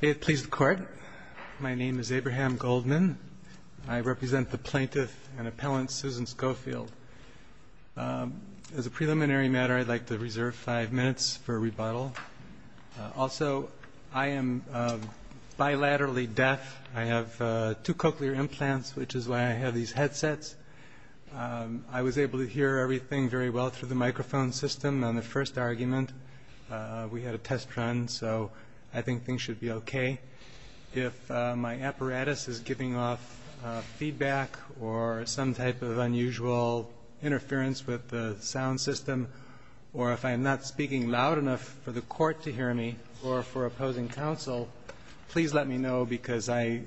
May it please the court. My name is Abraham Goldman. I represent the plaintiff and appellant Susan Schofield. As a preliminary matter, I'd like to reserve five minutes for rebuttal. Also, I am bilaterally deaf. I have two cochlear implants, which is why I have these headsets. I was able to hear everything very well through the microphone system on the first argument. We had a test run, so I think things should be okay. If my apparatus is giving off feedback or some type of unusual interference with the sound system, or if I'm not speaking loud enough for the court to hear me or for opposing counsel, please let me know because I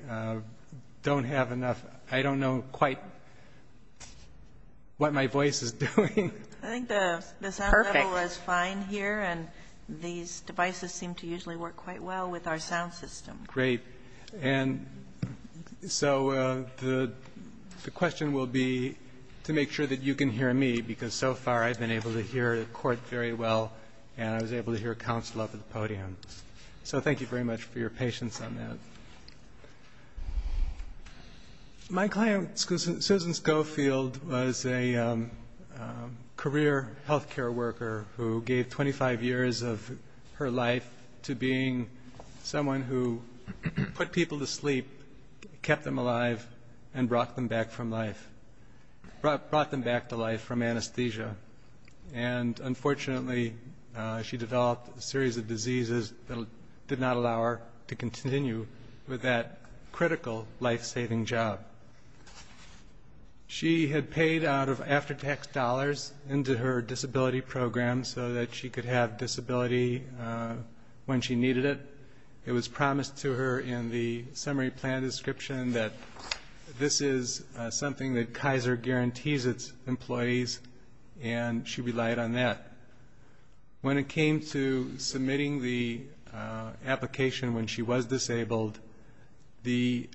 don't have enough. I don't know quite what my voice is doing. I think the sound level is fine here, and these devices seem to usually work quite well with our sound system. Great. And so the question will be to make sure that you can hear me, because so far I've been able to hear the court very well and I was able to hear counsel up at the podium. So thank you very much for your patience on that. My client, Susan Schofield, was a career health care worker who gave 25 years of her life to being someone who put people to sleep, kept them alive, and brought them back to life from anesthesia. And unfortunately, she developed a series of diseases that did not allow her to continue with that critical life-saving job. She had paid out of after-tax dollars into her disability program so that she could have disability when she needed it. It was promised to her in the summary plan description that this is something that Kaiser guarantees its employees and she relied on that. When it came to submitting the application when she was disabled, the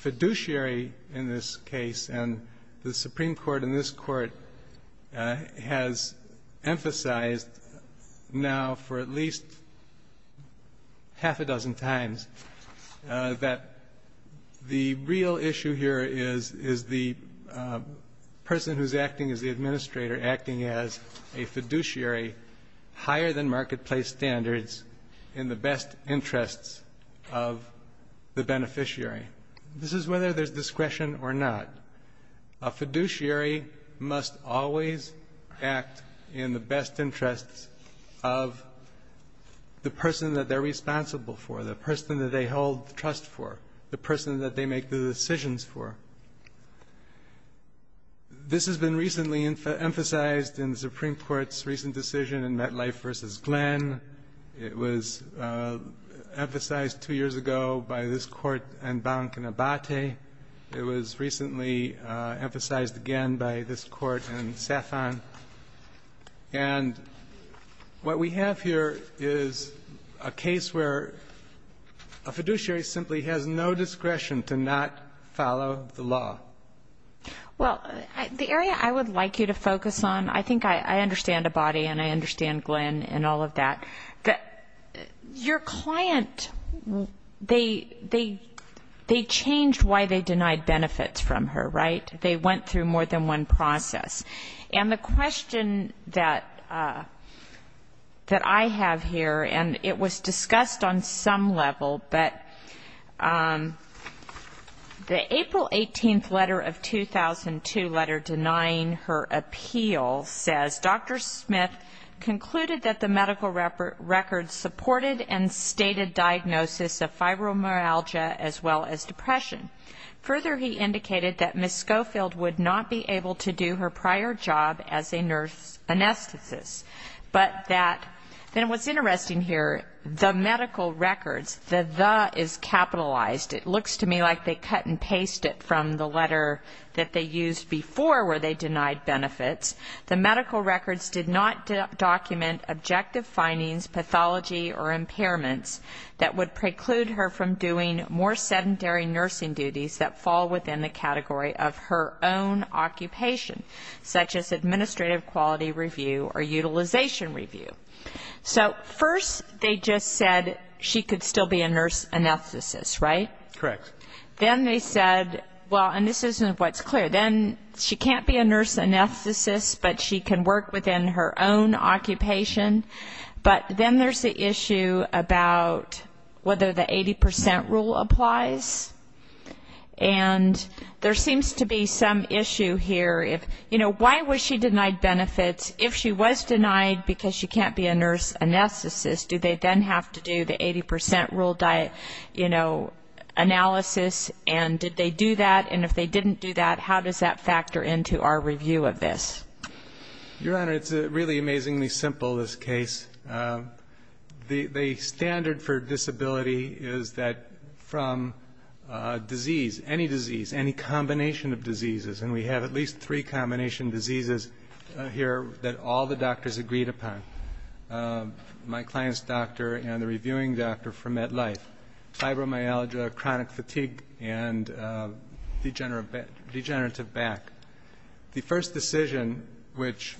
fiduciary in this case and the Supreme Court in this court has emphasized now for at least half a dozen times that the real issue here is the person who's acting as the administrator acting as a fiduciary higher than marketplace standards in the best interests of the beneficiary. This is whether there's discretion or not. A fiduciary must always act in the best interests of the person that they're responsible for, the person that they hold trust for, the person that they make the decisions for. This has been recently emphasized in the Supreme Court's recent decision in MetLife v. Glenn. It was emphasized two years ago by this court and Bank and Abate. It was recently emphasized again by this court and Safan. And what we have here is a case where a fiduciary simply has no discretion to not follow the law. Well, the area I would like you to focus on, I think I understand Abate and I understand Glenn and all of that. Your client, they changed why they denied benefits from her, right? They went through more than one process. And the question that I have here, and it was discussed on some level, but the April 18th letter of 2002 letter denying her appeal says, Dr. Smith concluded that the medical record supported and stated diagnosis of fibromyalgia as well as depression. Further, he indicated that Ms. Schofield would not be able to do her prior job as a nurse anesthetist, but that, and what's interesting here, the medical records, the the is capitalized. It looks to me like they cut and paste it from the letter that they used before where they denied benefits. The medical records did not document objective findings, pathology or impairments that would preclude her from doing more sedentary nursing duties that fall within the category of her own occupation, such as administrative quality review or utilization review. So first they just said she could still be a nurse anesthetist, right? Correct. Then they said, well, and this isn't what's clear, then she can't be a nurse anesthetist, but she can work within her own occupation. But then there's the issue about whether the 80 percent rule applies, and there seems to be some issue here. You know, why was she denied benefits? If she was denied because she can't be a nurse anesthetist, do they then have to do the 80 percent rule analysis, and did they do that? And if they didn't do that, how does that factor into our review of this? Your Honor, it's really amazingly simple, this case. The standard for disability is that from disease, any disease, any combination of diseases, and we have at least three combination diseases here that all the doctors agreed upon, my client's doctor and the reviewing doctor for MetLife, fibromyalgia, chronic fatigue, and degenerative back. The first decision, which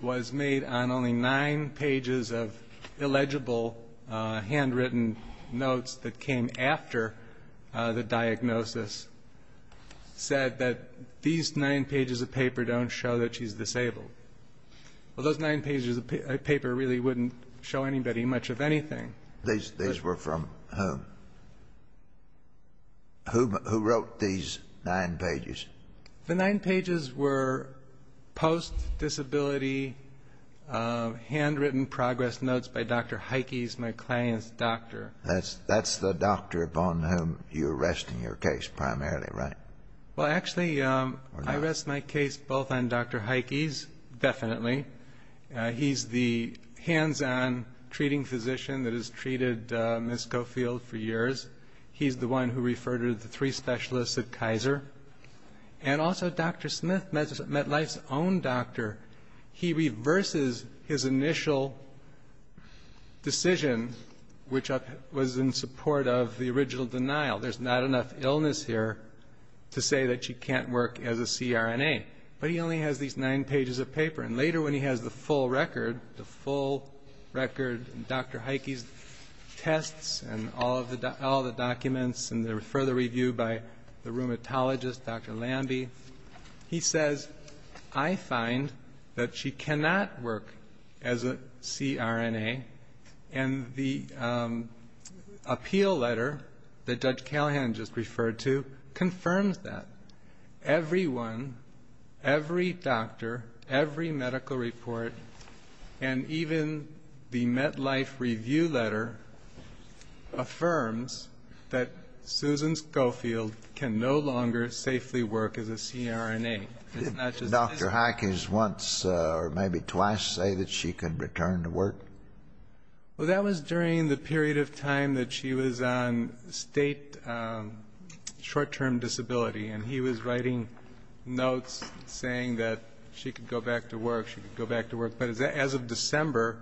was made on only nine pages of illegible handwritten notes that came after the diagnosis, said that these nine pages of paper don't show that she's disabled. Well, those nine pages of paper really wouldn't show anybody much of anything. These were from whom? Who wrote these nine pages? The nine pages were post-disability handwritten progress notes by Dr. Heikes, my client's doctor. That's the doctor upon whom you're arresting your case primarily, right? Well, actually, I arrest my case both on Dr. Heikes, definitely. He's the hands-on treating physician that has treated Ms. Coffield for years. He's the one who referred her to the three specialists at Kaiser. And also Dr. Smith, MetLife's own doctor. He reverses his initial decision, which was in support of the original denial. There's not enough illness here to say that she can't work as a CRNA. But he only has these nine pages of paper. And later when he has the full record, the full record of Dr. Heikes' tests and all the documents and the further review by the rheumatologist, Dr. Lamby, he says, I find that she cannot work as a CRNA. And the appeal letter that Judge Callahan just referred to confirms that. Everyone, every doctor, every medical report, and even the MetLife review letter affirms that Susan Scofield can no longer safely work as a CRNA. Did Dr. Heikes once or maybe twice say that she could return to work? Well, that was during the period of time that she was on state short-term disability. And he was writing notes saying that she could go back to work, she could go back to work. But as of December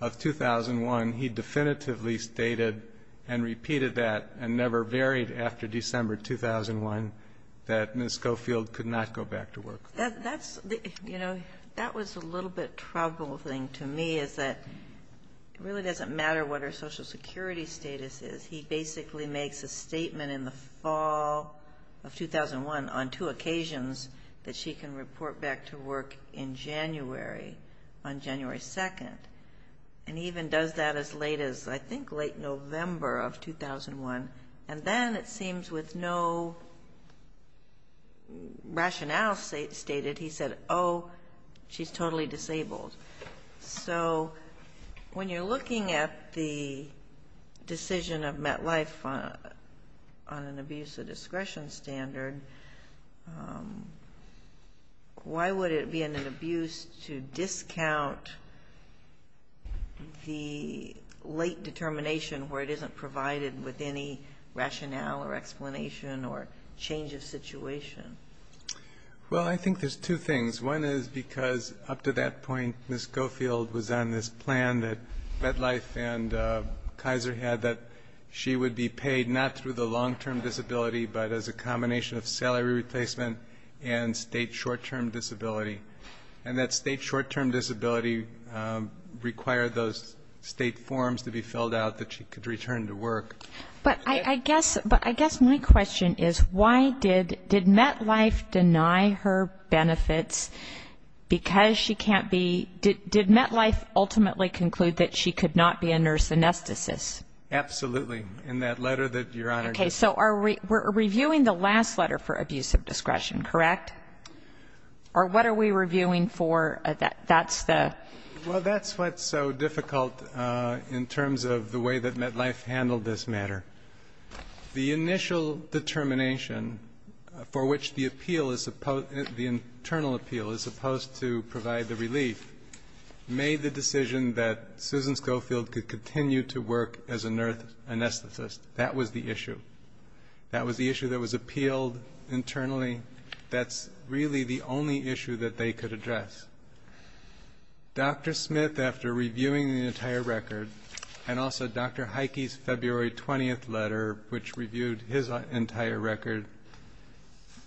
of 2001, he definitively stated and repeated that and never varied after December 2001 that Ms. Scofield could not go back to work. That was a little bit troubling to me, is that it really doesn't matter what her Social Security status is. He basically makes a statement in the fall of 2001 on two occasions that she can report back to work in January, on January 2nd. And he even does that as late as, I think, late November of 2001. And then it seems with no rationale stated, he said, oh, she's totally disabled. So when you're looking at the decision of MetLife on an abuse of discretion standard, why would it be an abuse to discount the late determination where it isn't provided with any rationale or explanation or change of situation? Well, I think there's two things. One is because up to that point, Ms. Scofield was on this plan that MetLife and Kaiser had that she would be paid not through the long-term disability, but as a combination of salary replacement and state short-term disability. And that state short-term disability required those state forms to be filled out that she could return to work. But I guess my question is why did MetLife deny her benefits because she can't be, did MetLife ultimately conclude that she could not be a nurse anesthetist? Absolutely, in that letter that Your Honor just read. Okay. So we're reviewing the last letter for abuse of discretion, correct? Or what are we reviewing for that? That's the ---- Well, that's what's so difficult in terms of the way that MetLife handled this matter. The initial determination for which the appeal is supposed to, the internal appeal is supposed to provide the relief, made the decision that Susan Scofield could continue to work as a nurse anesthetist. That was the issue. That was the issue that was appealed internally. That's really the only issue that they could address. Dr. Smith, after reviewing the entire record, and also Dr. Heike's February 20th letter, which reviewed his entire record,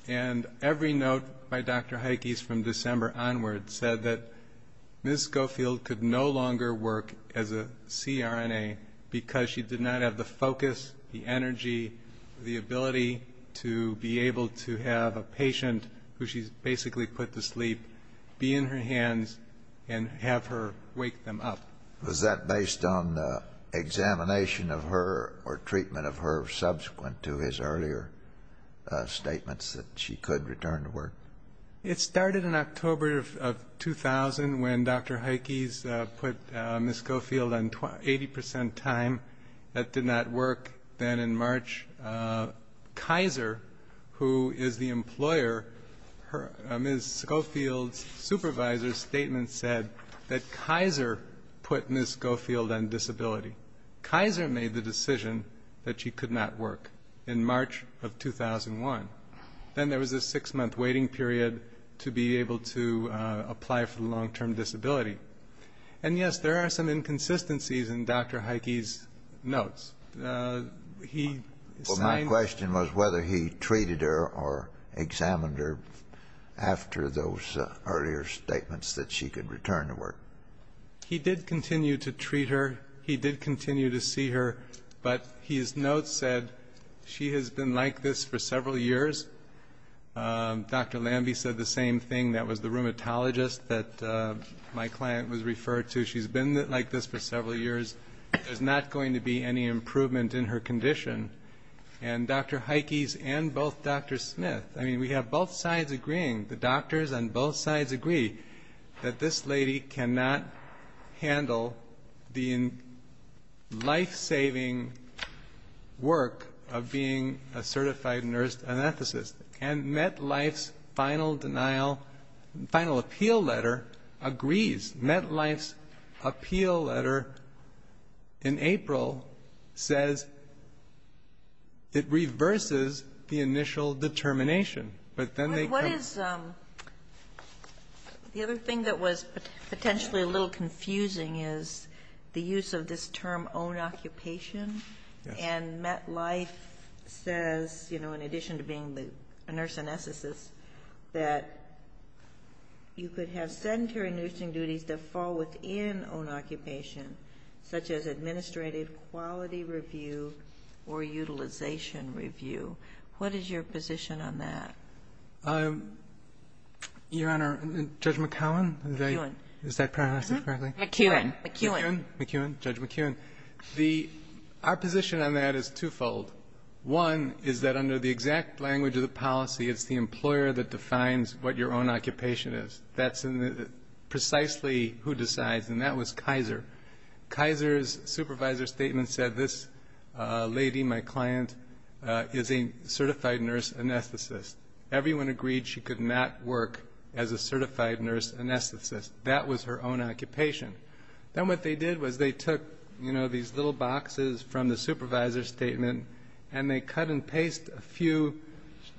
and every note by Dr. Heike's from December onward said that Ms. Scofield could no longer work as a CRNA because she did not have the focus, the energy, the ability to be able to have a patient who she's basically put to sleep be in her hands and have her wake them up. Was that based on examination of her or treatment of her subsequent to his earlier statements that she could return to work? It started in October of 2000 when Dr. Heike's put Ms. Scofield on 80 percent time. That did not work. Then in March, Kaiser, who is the employer, Ms. Scofield's supervisor's statement said that Kaiser put Ms. Scofield on disability. Kaiser made the decision that she could not work in March of 2001. Then there was a six-month waiting period to be able to apply for the long-term disability. And, yes, there are some inconsistencies in Dr. Heike's notes. My question was whether he treated her or examined her after those earlier statements that she could return to work. He did continue to treat her. He did continue to see her. But his notes said she has been like this for several years. Dr. Lamby said the same thing. That was the rheumatologist that my client was referred to. She's been like this for several years. There's not going to be any improvement in her condition. And Dr. Heike's and both Drs. Smith, I mean, we have both sides agreeing, the doctors on both sides agree, that this lady cannot handle the life-saving work of being a certified nurse anesthetist. And MetLife's final appeal letter agrees. MetLife's appeal letter in April says it reverses the initial determination. But then they come. What is the other thing that was potentially a little confusing is the use of this term own occupation. And MetLife says, you know, in addition to being a nurse anesthetist, that you could have sedentary nursing duties that fall within own occupation, such as administrative quality review or utilization review. What is your position on that? Your Honor, Judge McKeown? McKeown. Is that pronounced correctly? McKeown. McKeown. McKeown. Judge McKeown. Our position on that is twofold. One is that under the exact language of the policy, it's the employer that defines what your own occupation is. That's precisely who decides, and that was Kaiser. Kaiser's supervisor statement said, this lady, my client, is a certified nurse anesthetist. Everyone agreed she could not work as a certified nurse anesthetist. That was her own occupation. Then what they did was they took, you know, these little boxes from the supervisor statement, and they cut and pasted a few.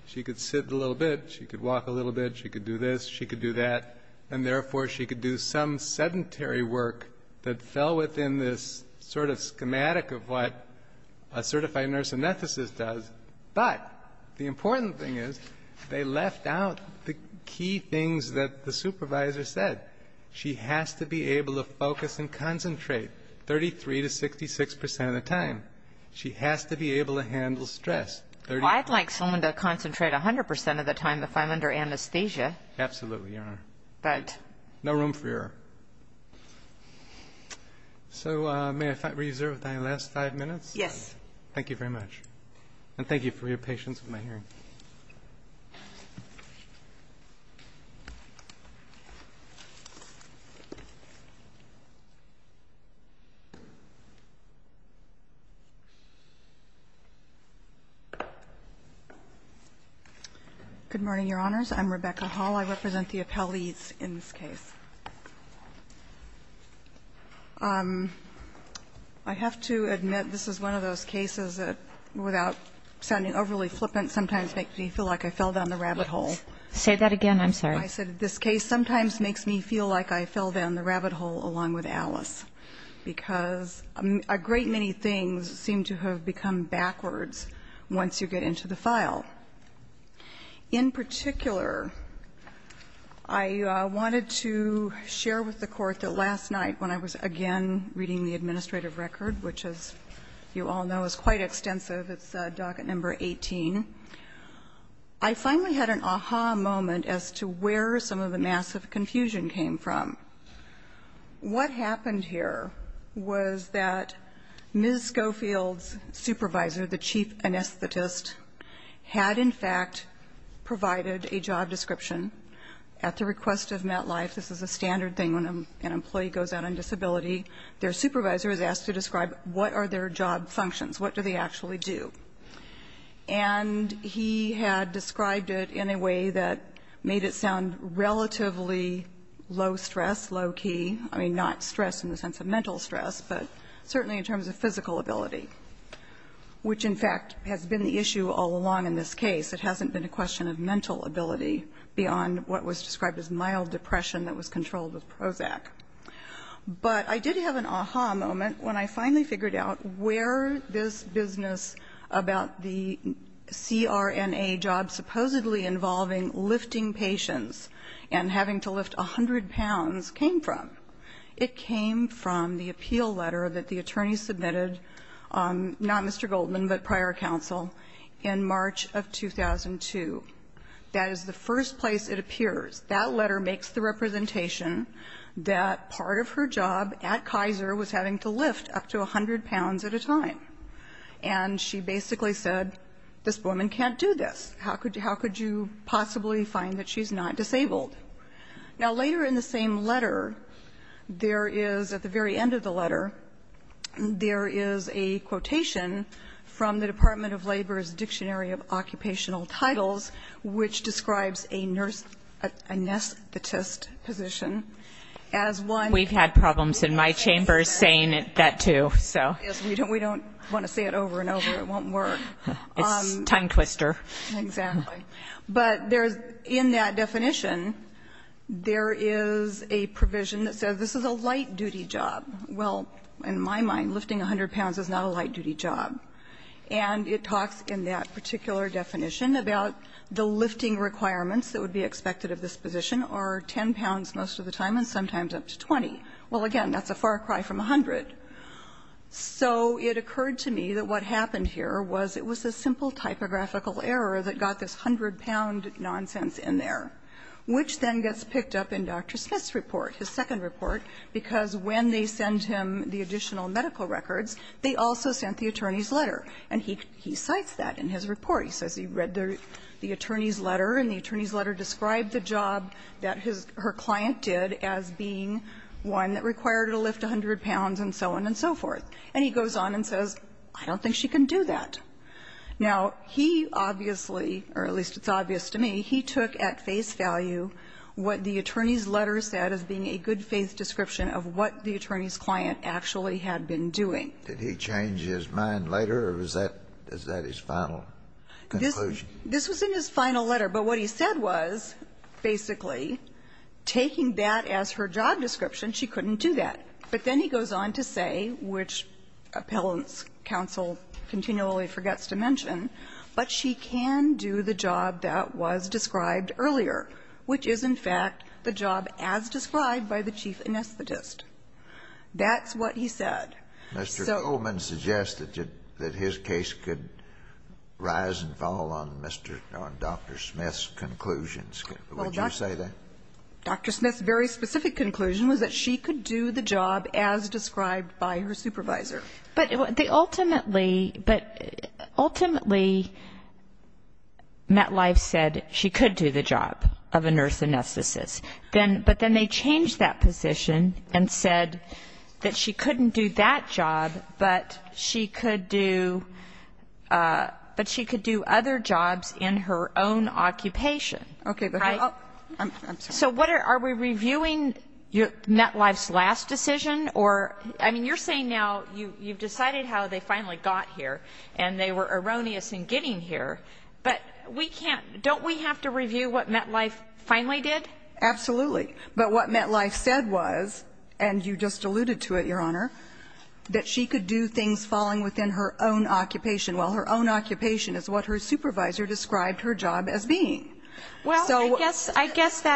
She could sit a little bit, she could walk a little bit, she could do this, she could do that, and, therefore, she could do some sedentary work that fell within this sort of schematic of what a certified nurse anesthetist does. But the important thing is they left out the key things that the supervisor said. She has to be able to focus and concentrate 33% to 66% of the time. She has to be able to handle stress. Well, I'd like someone to concentrate 100% of the time if I'm under anesthesia. Absolutely, Your Honor. But. No room for error. So may I reserve your last five minutes? Yes. Thank you very much. And thank you for your patience in my hearing. Good morning, Your Honors. I'm Rebecca Hall. I represent the appellees in this case. I have to admit this is one of those cases that, without sounding overly flippant, sometimes makes me feel like I fell down the rabbit hole. Say that again. I'm sorry. I said this case sometimes makes me feel like I fell down the rabbit hole along with Alice because a great many things seem to have become backwards once you get into the file. In particular, I wanted to share with the Court that last night, when I was again reading the administrative record, which as you all know is quite extensive, it's docket number 18, I finally had an ah-ha moment as to where some of the massive confusion came from. What happened here was that Ms. Schofield's supervisor, the chief anesthetist, had in fact provided a job description at the request of MetLife. This is a standard thing when an employee goes out on disability. Their supervisor is asked to describe what are their job functions, what do they actually do. And he had described it in a way that made it sound relatively low stress, low key. I mean, not stress in the sense of mental stress, but certainly in terms of physical ability, which in fact has been the issue all along in this case. It hasn't been a question of mental ability beyond what was described as mild depression that was controlled with Prozac. But I did have an ah-ha moment when I finally figured out where this business about the CRNA job supposedly involving lifting patients and having to lift 100 pounds came from. It came from the appeal letter that the attorney submitted, not Mr. Goldman, but prior counsel, in March of 2002. That is the first place it appears. That letter makes the representation that part of her job at Kaiser was having to lift up to 100 pounds at a time. And she basically said, this woman can't do this. How could you possibly find that she's not disabled? Now, later in the same letter, there is, at the very end of the letter, there is a quotation from the Department of Labor's Dictionary of Occupational Titles, which describes a anesthetist position as one. We've had problems in my chambers saying that, too. Yes, we don't want to say it over and over. It won't work. It's a time twister. Exactly. But there's, in that definition, there is a provision that says this is a light duty job. Well, in my mind, lifting 100 pounds is not a light duty job. And it talks in that particular definition about the lifting requirements that would be expected of this position are 10 pounds most of the time and sometimes up to 20. Well, again, that's a far cry from 100. So it occurred to me that what happened here was it was a simple typographical error that got this 100-pound nonsense in there, which then gets picked up in Dr. Smith's report, his second report, because when they send him the additional medical records, they also sent the attorney's letter. And he cites that in his report. He says he read the attorney's letter and the attorney's letter described the job that his or her client did as being one that required to lift 100 pounds and so on and so forth. And he goes on and says, I don't think she can do that. Now, he obviously, or at least it's obvious to me, he took at face value what the attorney's letter said as being a good-faith description of what the attorney's client actually had been doing. Kennedy. Did he change his mind later, or is that his final conclusion? This was in his final letter. But what he said was, basically, taking that as her job description, she couldn't do that. But then he goes on to say, which Appellant's counsel continually forgets to mention, but she can do the job that was described earlier, which is, in fact, the job as described by the chief anesthetist. That's what he said. So Mr. Coleman suggested that his case could rise and fall on Mr. or Dr. Smith's conclusions. Would you say that? Dr. Smith's very specific conclusion was that she could do the job as described by her supervisor. But ultimately, ultimately, MetLife said she could do the job of a nurse anesthetist. But then they changed that position and said that she couldn't do that job, but she could do other jobs in her own occupation. Okay. I'm sorry. So are we reviewing MetLife's last decision? Or, I mean, you're saying now you've decided how they finally got here, and they were erroneous in getting here. But we can't, don't we have to review what MetLife finally did? Absolutely. But what MetLife said was, and you just alluded to it, Your Honor, that she could do things falling within her own occupation, while her own occupation is what her supervisor described her job as being. Well, I guess that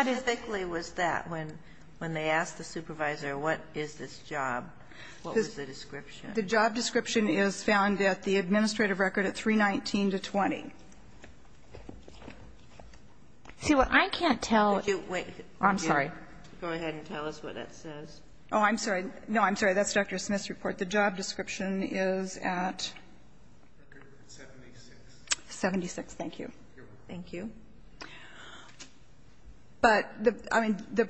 is. How specific was that, when they asked the supervisor what is this job, what was the description? The job description is found at the administrative record at 319-20. See, what I can't tell. Wait. I'm sorry. Go ahead and tell us what that says. Oh, I'm sorry. No, I'm sorry. That's Dr. Smith's report. The job description is at 76. Thank you. Thank you. But, I mean, the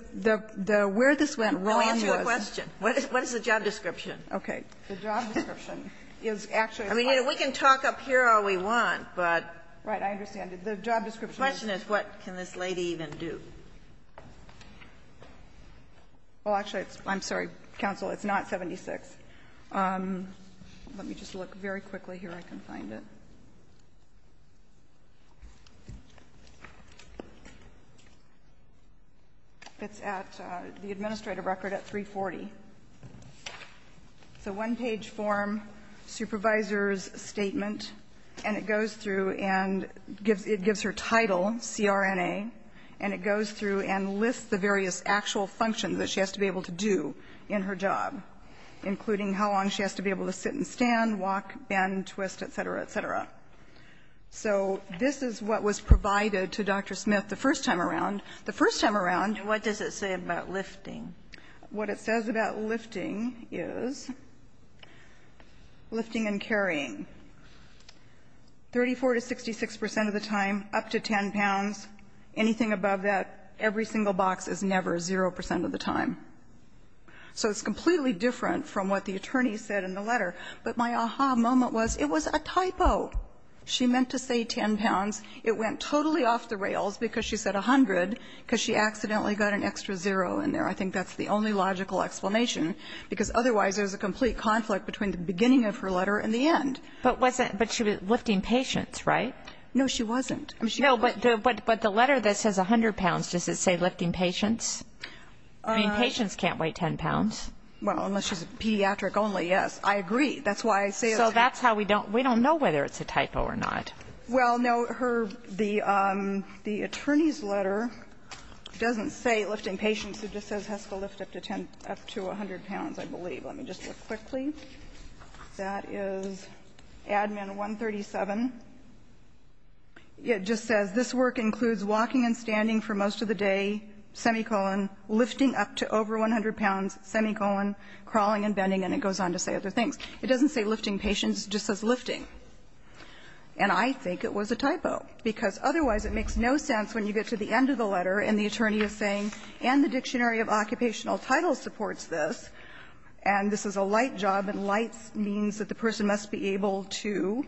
where this went wrong was. Answer the question. What is the job description? Okay. The job description is actually. I mean, we can talk up here all we want, but. Right. I understand. The job description. The question is what can this lady even do? Well, actually, I'm sorry, counsel, it's not 76. Let me just look very quickly here. I can find it. It's at the administrative record at 340. It's a one-page form, supervisor's statement. And it goes through and it gives her title, CRNA. And it goes through and lists the various actual functions that she has to be able to do in her job, including how long she has to be able to sit and stand, walk, bend, twist, et cetera, et cetera. So this is what was provided to Dr. Smith the first time around. The first time around. And what does it say about lifting? What it says about lifting is lifting and carrying. 34 to 66 percent of the time, up to 10 pounds, anything above that, every single box is never 0 percent of the time. So it's completely different from what the attorney said in the letter. But my aha moment was it was a typo. She meant to say 10 pounds. It went totally off the rails because she said 100, because she accidentally got an extra 0 in there. I think that's the only logical explanation, because otherwise there's a complete conflict between the beginning of her letter and the end. But she was lifting patients, right? No, she wasn't. No, but the letter that says 100 pounds, does it say lifting patients? I mean, patients can't weigh 10 pounds. Well, unless she's a pediatric only, yes. I agree. That's why I say it's a typo. So that's how we don't know whether it's a typo or not. Well, no. The attorney's letter doesn't say lifting patients. It just says has to lift up to 100 pounds, I believe. Let me just look quickly. That is Admin 137. It just says this work includes walking and standing for most of the day, semicolon, lifting up to over 100 pounds, semicolon, crawling and bending. And it goes on to say other things. It doesn't say lifting patients. It just says lifting. And I think it was a typo, because otherwise it makes no sense when you get to the end of the letter and the attorney is saying, and the Dictionary of Occupational Titles supports this, and this is a light job, and light means that the person must be able to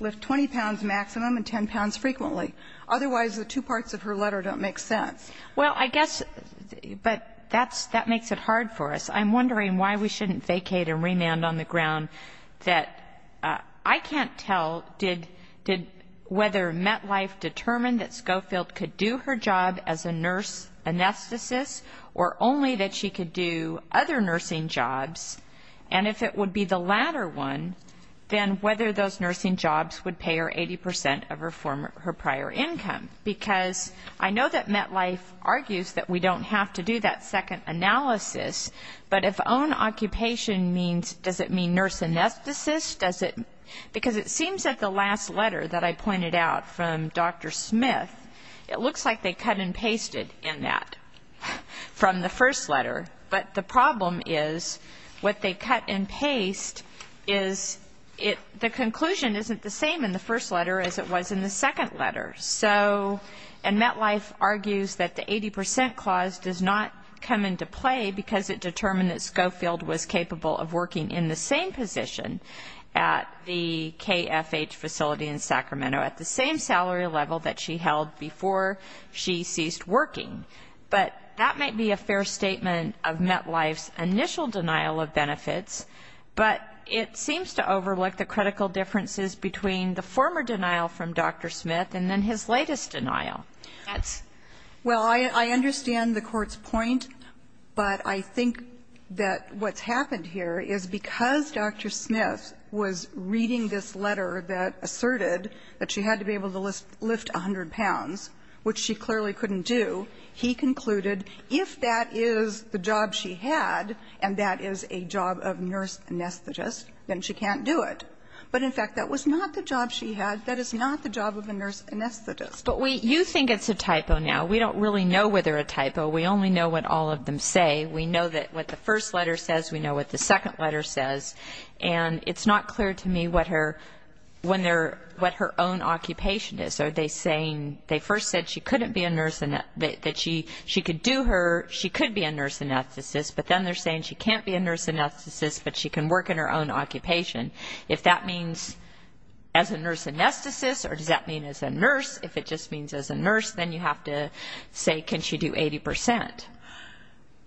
lift 20 pounds maximum and 10 pounds frequently. Otherwise, the two parts of her letter don't make sense. Well, I guess, but that makes it hard for us. I'm wondering why we shouldn't vacate and remand on the ground that I can't tell did whether MetLife determined that Schofield could do her job as a nurse anesthetist or only that she could do other nursing jobs, and if it would be the latter one, then whether those nursing jobs would pay her 80 percent of her prior income. Because I know that MetLife argues that we don't have to do that second analysis, but if own occupation means, does it mean nurse anesthetist? Because it seems that the last letter that I pointed out from Dr. Smith, it looks like they cut and pasted in that from the first letter. But the problem is what they cut and paste is the conclusion isn't the same in the first letter as it was in the second letter. And MetLife argues that the 80 percent clause does not come into play because it determined that Schofield was capable of working in the same position at the KFH facility in Sacramento at the same salary level that she held before she ceased working. But that might be a fair statement of MetLife's initial denial of benefits, but it seems to overlook the critical differences between the former denial from Dr. Smith and then his latest denial. That's why I understand the Court's point, but I think that what's happened here is because Dr. Smith was reading this letter that asserted that she had to be able to lift 100 pounds, which she clearly couldn't do, he concluded if that is the job she had and that is a job of nurse anesthetist, then she can't do it. But, in fact, that was not the job she had. That is not the job of a nurse anesthetist. But you think it's a typo now. We don't really know whether a typo. We only know what all of them say. We know what the first letter says. We know what the second letter says. And it's not clear to me what her own occupation is. Are they saying they first said she couldn't be a nurse, that she could do her, she could be a nurse anesthetist, but then they're saying she can't be a nurse anesthetist, but she can work in her own occupation. If that means as a nurse anesthetist or does that mean as a nurse, if it just means as a nurse, then you have to say can she do 80 percent.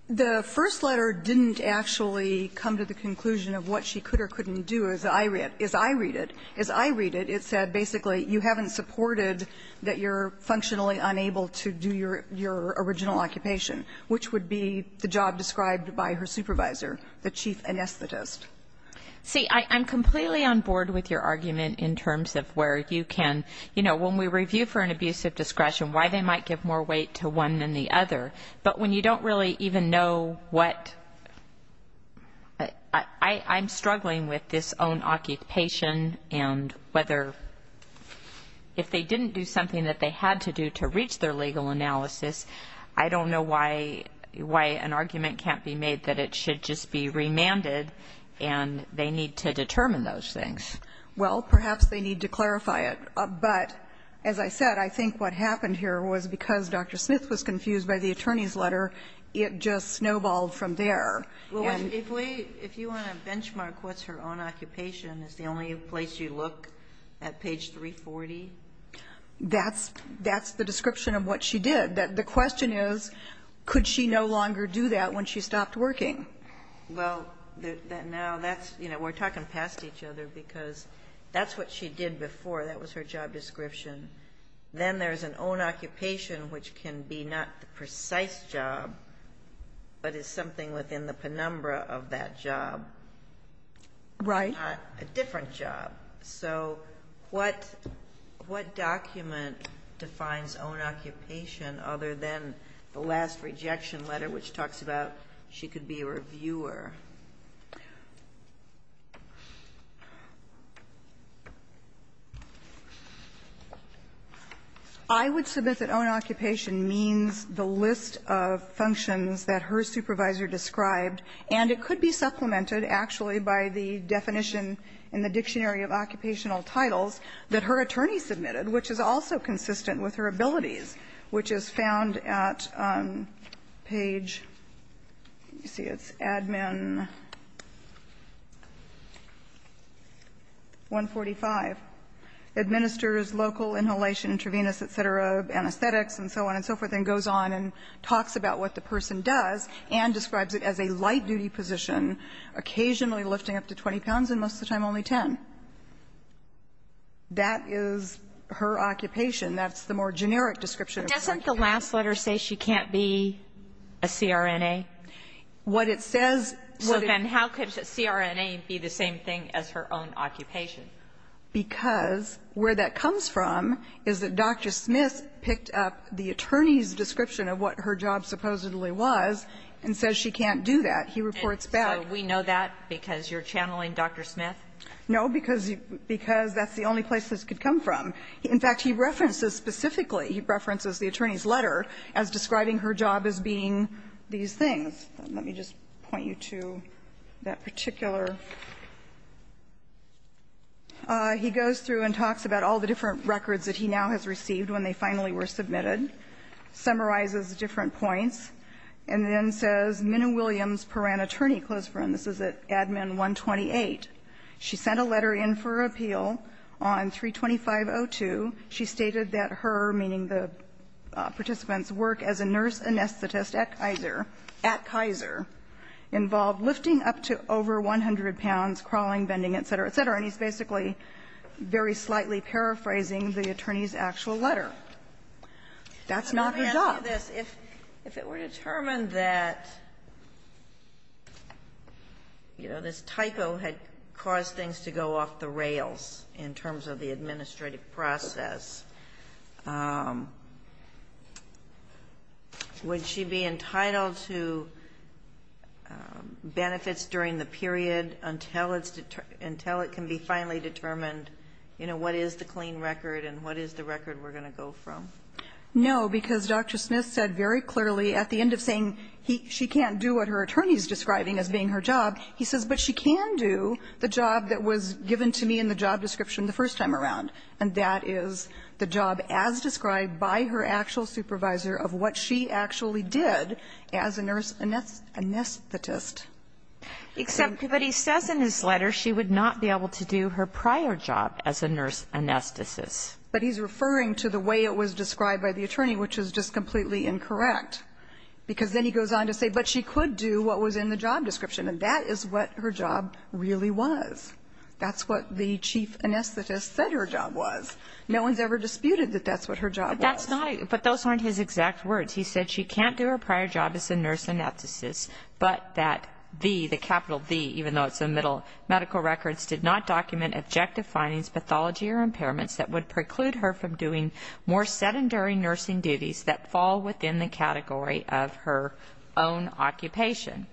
The first letter didn't actually come to the conclusion of what she could or couldn't do, as I read it. As I read it, it said basically you haven't supported that you're functionally unable to do your original occupation, which would be the job described by her supervisor, the chief anesthetist. See, I'm completely on board with your argument in terms of where you can, you know, when we review for an abuse of discretion, why they might give more weight to one than the other. But when you don't really even know what, I'm struggling with this own occupation and whether if they didn't do something that they had to do to reach their legal analysis, I don't know why an argument can't be made that it should just be remanded and they need to determine those things. Well, perhaps they need to clarify it. But as I said, I think what happened here was because Dr. Smith was confused by the attorney's letter, it just snowballed from there. If you want to benchmark what's her own occupation, is the only place you look at page 340? That's the description of what she did. The question is, could she no longer do that when she stopped working? Well, now that's, you know, we're talking past each other because that's what she did before. That was her job description. Then there's an own occupation, which can be not the precise job, but is something within the penumbra of that job. Right. Not a different job. So what document defines own occupation other than the last rejection letter, which talks about she could be a reviewer? I would submit that own occupation means the list of functions that her supervisor And it could be supplemented, actually, by the definition in the Dictionary of Occupational Titles that her attorney submitted, which is also consistent with her abilities, which is found at page, let me see, it's Admin 145. Administers local inhalation intravenous, et cetera, anesthetics, and so on and so forth, and goes on and talks about what the person does and describes it as a light-duty position, occasionally lifting up to 20 pounds and most of the time only 10. That is her occupation. That's the more generic description of her occupation. But doesn't the last letter say she can't be a CRNA? What it says so that Well, then how could CRNA be the same thing as her own occupation? Because where that comes from is that Dr. Smith picked up the attorney's description of what her job supposedly was and says she can't do that. He reports back So we know that because you're channeling Dr. Smith? No, because that's the only place this could come from. In fact, he references specifically, he references the attorney's letter as describing her job as being these things. Let me just point you to that particular He goes through and talks about all the different records that he now has received when they finally were submitted, summarizes the different points, and then says Minna Williams, Paran attorney, close friend. This is at Admin 128. She sent a letter in for appeal on 325.02. She stated that her, meaning the participant's work as a nurse anesthetist at Kaiser, at Kaiser, involved lifting up to over 100 pounds, crawling, bending, et cetera, et cetera. And he's basically very slightly paraphrasing the attorney's actual letter. That's not her job. Let me ask you this. If it were determined that, you know, this typo had caused things to go off the rails in terms of the administrative process, would she be entitled to benefits during the period until it can be finally determined, you know, what is the clean record and what is the record we're going to go from? No, because Dr. Smith said very clearly at the end of saying she can't do what her attorney's describing as being her job, he says, but she can do the job that was given to me in the job description the first time around, and that is the job as described by her actual supervisor of what she actually did as a nurse anesthetist. Except that he says in his letter she would not be able to do her prior job as a nurse anesthetist. But he's referring to the way it was described by the attorney, which is just completely incorrect, because then he goes on to say, but she could do what was in the job description, and that is what her job really was. That's what the chief anesthetist said her job was. No one's ever disputed that that's what her job was. But that's not, but those aren't his exact words. He said she can't do her prior job as a nurse anesthetist, but that the, the capital the, even though it's in the middle, medical records did not document objective findings, pathology or impairments that would preclude her from doing more sedentary nursing duties that fall within the category of her own occupation,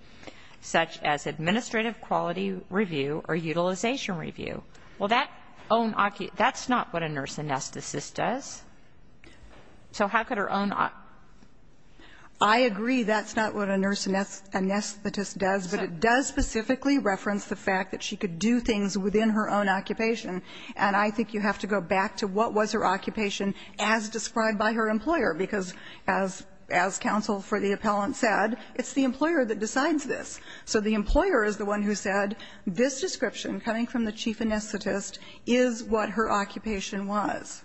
such as administrative quality review or utilization review. Well, that own, that's not what a nurse anesthetist does. So how could her own? I agree that's not what a nurse anesthetist does, but it does specifically reference the fact that she could do things within her own occupation. And I think you have to go back to what was her occupation as described by her employer, because as counsel for the appellant said, it's the employer that decides this. So the employer is the one who said this description coming from the chief anesthetist is what her occupation was.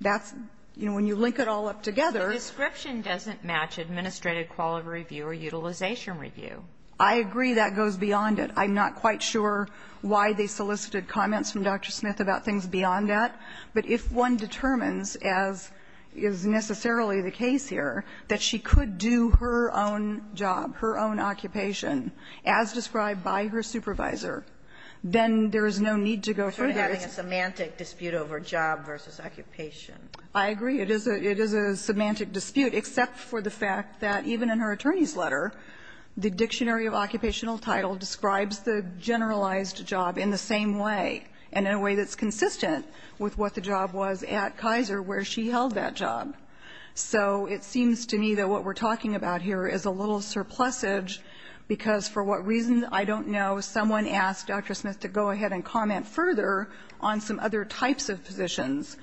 That's, you know, when you link it all up together. But the description doesn't match administrative quality review or utilization review. I agree that goes beyond it. I'm not quite sure why they solicited comments from Dr. Smith about things beyond that. But if one determines, as is necessarily the case here, that she could do her own job, her own occupation, as described by her supervisor, then there is no need to go further. You're sort of having a semantic dispute over job versus occupation. I agree. It is a semantic dispute, except for the fact that even in her attorney's letter, the Dictionary of Occupational Title describes the generalized job in the same way and in a way that's consistent with what the job was at Kaiser where she held that job. So it seems to me that what we're talking about here is a little surplusage because for what reason, I don't know, someone asked Dr. Smith to go ahead and comment further on some other types of positions.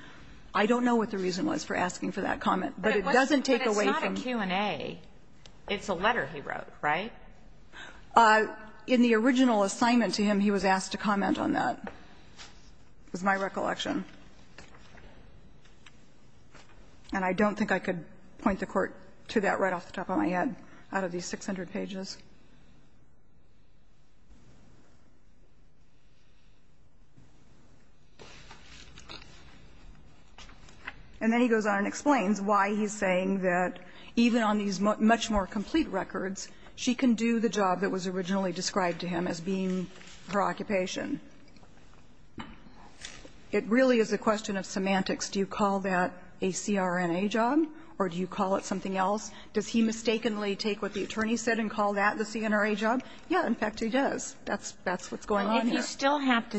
I don't know what the reason was for asking for that comment. But it doesn't take away from the question. But it's not a Q&A. It's a letter he wrote, right? In the original assignment to him, he was asked to comment on that. It was my recollection. And I don't think I could point the Court to that right off the top of my head out of these 600 pages. And then he goes on and explains why he's saying that even on these much more complete records, she can do the job that was originally described to him as being her occupation. It really is a question of semantics. Do you call that a CRNA job? Or do you call it something else? Does he mistakenly take what the attorney said and call that the CNRA job? Yeah, in fact, he does. That's what's going on here. And if you still have to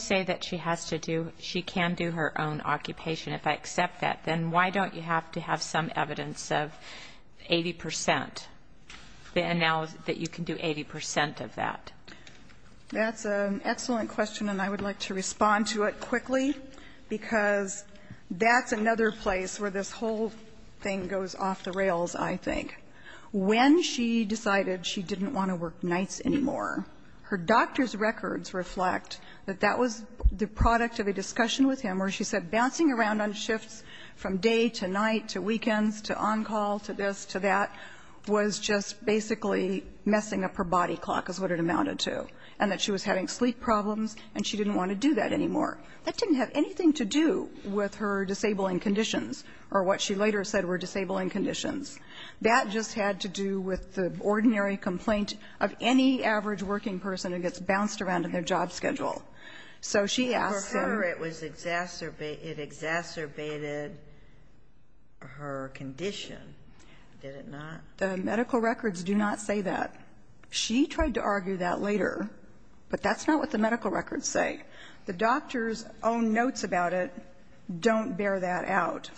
say that she has to do, she can do her own occupation, if I accept that, then why don't you have to have some evidence of 80 percent, the analysis that you can do 80 percent of that? That's an excellent question, and I would like to respond to it quickly, because that's another place where this whole thing goes off the rails, I think. When she decided she didn't want to work nights anymore, her doctor's records reflect that that was the product of a discussion with him where she said bouncing around on shifts from day to night to weekends to on-call to this to that was just basically messing up her body clock, is what it amounted to, and that she was having sleep problems and she didn't want to do that anymore. That didn't have anything to do with her disabling conditions or what she later said were disabling conditions. That just had to do with the ordinary complaint of any average working person who gets bounced around in their job schedule. So she asked him to do that. But for her, it was exacerbated her condition, did it not? The medical records do not say that. She tried to argue that later, but that's not what the medical records say. The doctor's own notes about it don't bear that out.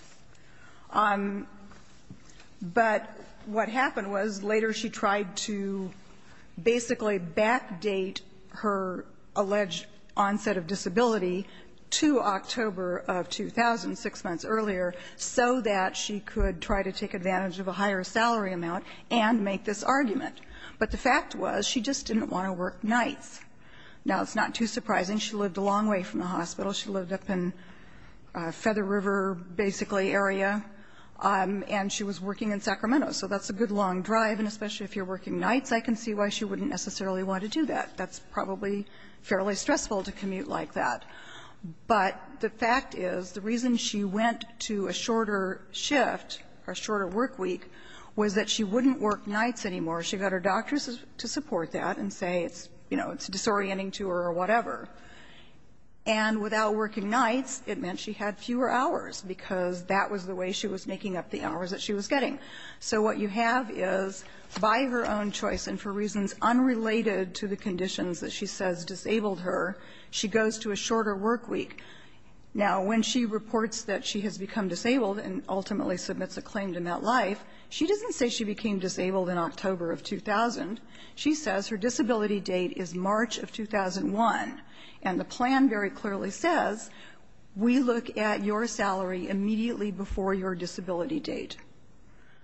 But what happened was later she tried to basically backdate her alleged onset of disability to October of 2000, six months earlier, so that she could try to take advantage of a higher salary amount and make this argument. But the fact was she just didn't want to work nights. Now, it's not too surprising. She lived a long way from the hospital. She lived up in Feather River, basically, area, and she was working in Sacramento. So that's a good long drive, and especially if you're working nights, I can see why she wouldn't necessarily want to do that. That's probably fairly stressful to commute like that. But the fact is, the reason she went to a shorter shift, a shorter work week, was that she wouldn't work nights anymore. She got her doctors to support that and say it's, you know, it's disorienting to her or whatever. And without working nights, it meant she had fewer hours, because that was the way she was making up the hours that she was getting. So what you have is, by her own choice and for reasons unrelated to the conditions that she says disabled her, she goes to a shorter work week. Now, when she reports that she has become disabled and ultimately submits a claim to MetLife, she doesn't say she became disabled in October of 2000. She says her disability date is March of 2001, and the plan very clearly says, we look at your salary immediately before your disability date.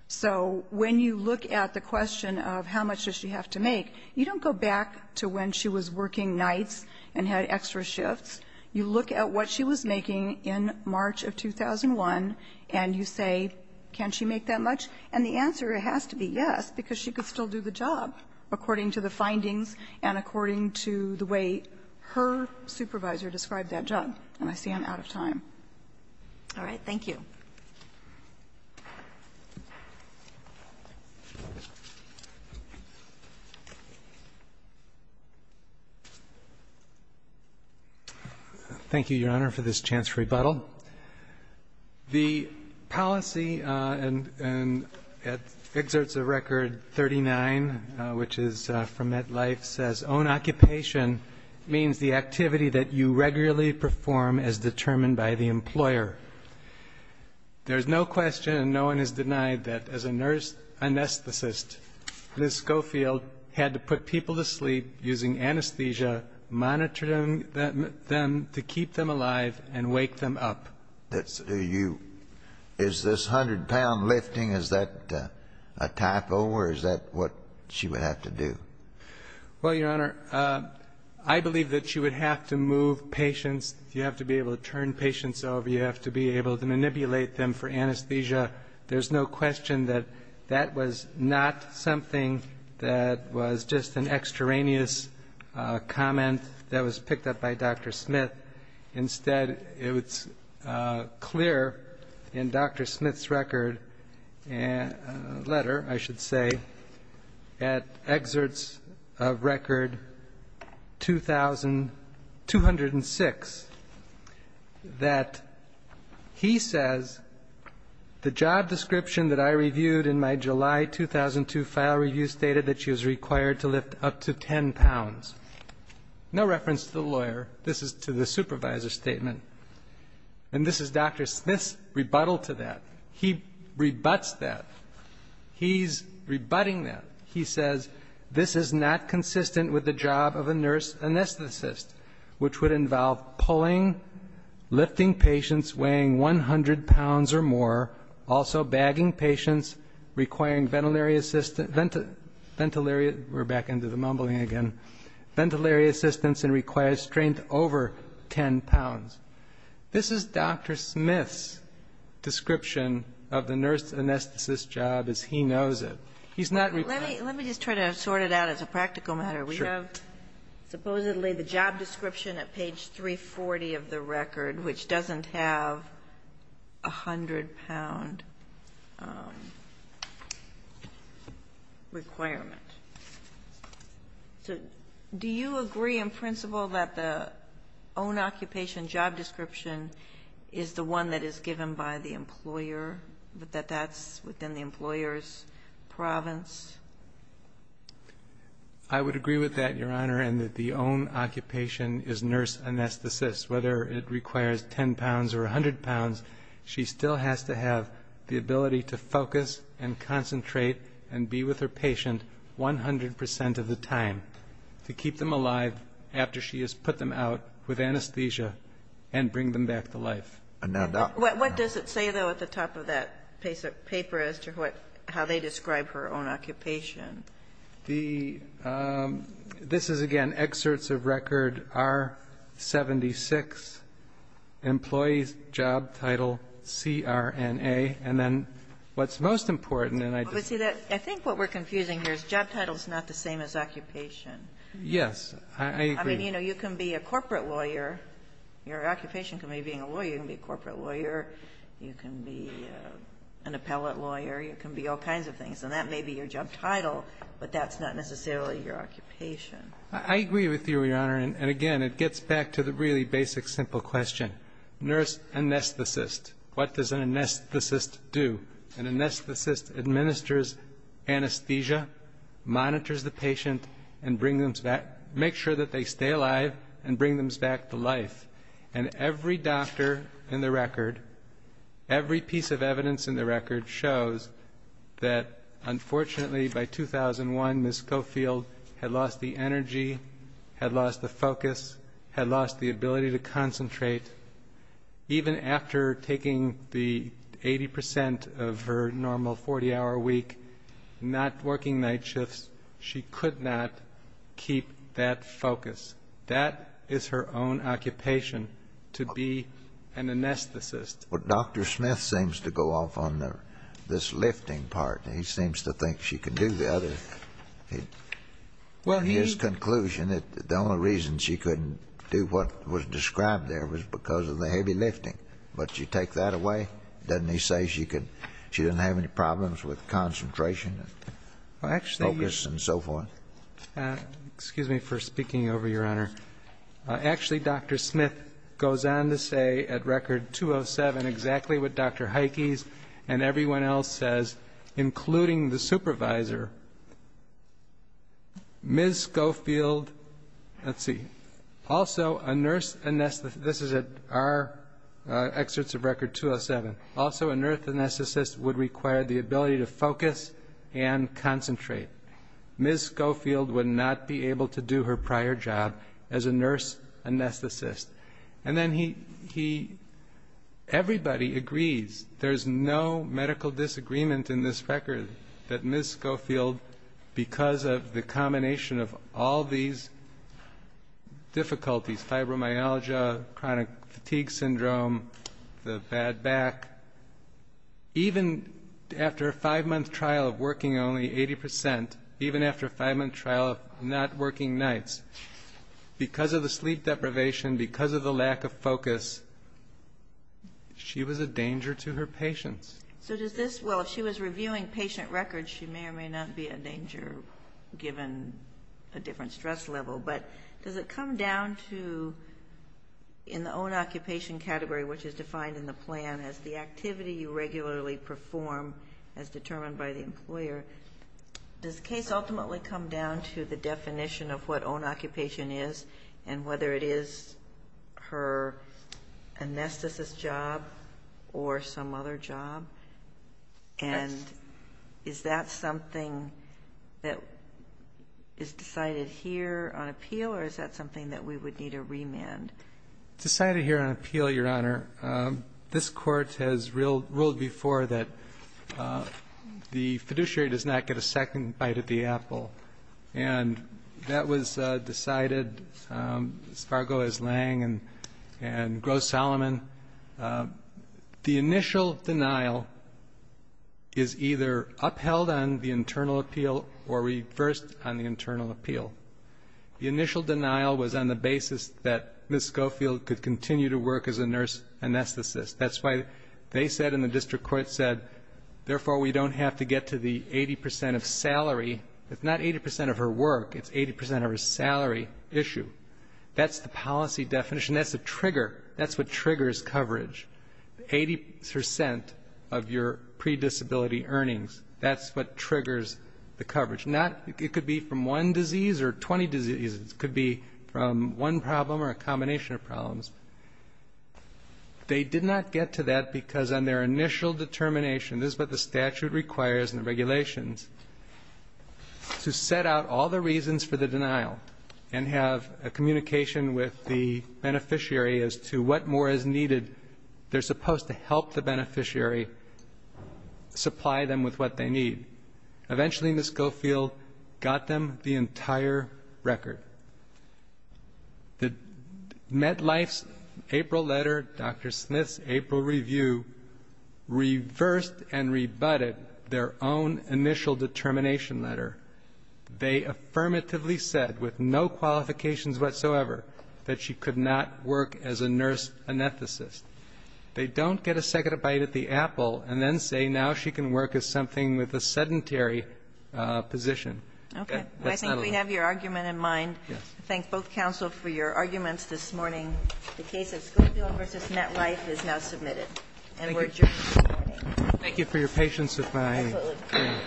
So when you look at the question of how much does she have to make, you don't go back to when she was working nights and had extra shifts. You look at what she was making in March of 2001 and you say, can she make that much? And the answer has to be yes, because she could still do the job according to the findings and according to the way her supervisor described that job. And I see I'm out of time. All right. Thank you. Thank you, Your Honor, for this chance for rebuttal. The policy, and it exerts a record 39, which is from MetLife, says, own occupation means the activity that you regularly perform as determined by the employer. There's no question and no one is denied that as a nurse anesthetist, Liz Schofield had to put people to sleep using anesthesia, monitoring them to keep them alive and wake them up. Is this 100-pound lifting, is that a typo or is that what she would have to do? Well, Your Honor, I believe that she would have to move patients. You have to be able to turn patients over. You have to be able to manipulate them for anesthesia. There's no question that that was not something that was just an extraneous comment that was picked up by Dr. Smith. Instead, it's clear in Dr. Smith's record letter, I should say, at Exerts of Record 2206, that he says, the job description that I reviewed in my July 2002 file review stated that she was required to lift up to 10 pounds. No reference to the lawyer. This is to the supervisor's statement. And this is Dr. Smith's rebuttal to that. He rebuts that. He's rebutting that. He says, This is not consistent with the job of a nurse anesthetist, which would involve pulling, lifting patients, weighing 100 pounds or more, also bagging patients, requiring ventilary assistance, we're back into the mumbling again, ventilary assistance and requires strength over 10 pounds. This is Dr. Smith's description of the nurse anesthetist's job as he knows it. He's not rebutting it. Let me just try to sort it out as a practical matter. Sure. We have supposedly the job description at page 340 of the record, which doesn't have a 100-pound requirement. So do you agree in principle that the own occupation job description is the one that is done by the employer, that that's within the employer's province? I would agree with that, Your Honor, and that the own occupation is nurse anesthetist. Whether it requires 10 pounds or 100 pounds, she still has to have the ability to focus and concentrate and be with her patient 100% of the time to keep them alive after she has put them out with anesthesia and bring them back to life. What does it say, though, at the top of that paper as to how they describe her own occupation? This is, again, excerpts of record R76, employees, job title, CRNA. And then what's most important, and I just ---- I think what we're confusing here is job title is not the same as occupation. Yes, I agree. I mean, you know, you can be a corporate lawyer. Your occupation can be being a lawyer. You can be a corporate lawyer. You can be an appellate lawyer. You can be all kinds of things. And that may be your job title, but that's not necessarily your occupation. I agree with you, Your Honor. And, again, it gets back to the really basic simple question. Nurse anesthetist. What does an anesthetist do? An anesthetist administers anesthesia, monitors the patient, and bring them back and make sure that they stay alive and bring them back to life. And every doctor in the record, every piece of evidence in the record, shows that, unfortunately, by 2001, Ms. Scofield had lost the energy, had lost the focus, had lost the ability to concentrate. Even after taking the 80% of her normal 40-hour week, not working night shifts, she could not keep that focus. That is her own occupation, to be an anesthetist. But Dr. Smith seems to go off on this lifting part. He seems to think she can do the other. In his conclusion, the only reason she couldn't do what was described there was because of the heavy lifting. But you take that away? Doesn't he say she didn't have any problems with concentration and focus? Focus and so forth. Excuse me for speaking over, Your Honor. Actually, Dr. Smith goes on to say at Record 207 exactly what Dr. Heikes and everyone else says, including the supervisor, Ms. Scofield, let's see, also a nurse anesthetist, this is at our excerpts of Record 207, also a nurse anesthetist would require the ability to focus and concentrate. Ms. Scofield would not be able to do her prior job as a nurse anesthetist. And then he, everybody agrees, there's no medical disagreement in this record that Ms. Scofield, because of the combination of all these difficulties, fibromyalgia, chronic fatigue syndrome, the bad back, even after a five-month trial of working only 80%, even after a five-month trial of not working nights, because of the sleep deprivation, because of the lack of focus, she was a danger to her patients. So does this, well, if she was reviewing patient records, she may or may not be a danger given a different stress level. But does it come down to, in the own occupation category, which is defined in the plan as the activity you regularly perform as determined by the employer, does the case ultimately come down to the definition of what own occupation is and whether it is her anesthetist's job or some other job? And is that something that is decided here on appeal, or is that something that we would need a remand? Decided here on appeal, Your Honor. This Court has ruled before that the fiduciary does not get a second bite at the apple. And that was decided as far ago as Lange and Gross-Solomon. The initial denial is either upheld on the internal appeal or reversed on the internal appeal. The initial denial was on the basis that Ms. Schofield could continue to work as a nurse anesthetist. That's why they said and the district court said, therefore we don't have to get to the 80% of salary. It's not 80% of her work, it's 80% of her salary issue. That's the policy definition. That's the trigger. That's what triggers coverage, 80% of your predisability earnings. That's what triggers the coverage. It could be from one disease or 20 diseases. It could be from one problem or a combination of problems. They did not get to that because on their initial determination, this is what the statute requires and the regulations, to set out all the reasons for the denial and have a communication with the beneficiary as to what more is needed. They're supposed to help the beneficiary supply them with what they need. Eventually, Ms. Schofield got them the entire record. The MetLife's April letter, Dr. Smith's April review, reversed and rebutted their own initial determination letter. They affirmatively said, with no qualifications whatsoever, that she could not work as a nurse anesthetist. They don't get a second bite at the apple and then say now she can work as something with a sedentary position. That's not allowed. Okay. I think we have your argument in mind. Yes. I thank both counsel for your arguments this morning. The case of Schofield v. MetLife is now submitted. Thank you. And we're adjourned. Thank you for your patience with my hearing. Absolutely. Thank you.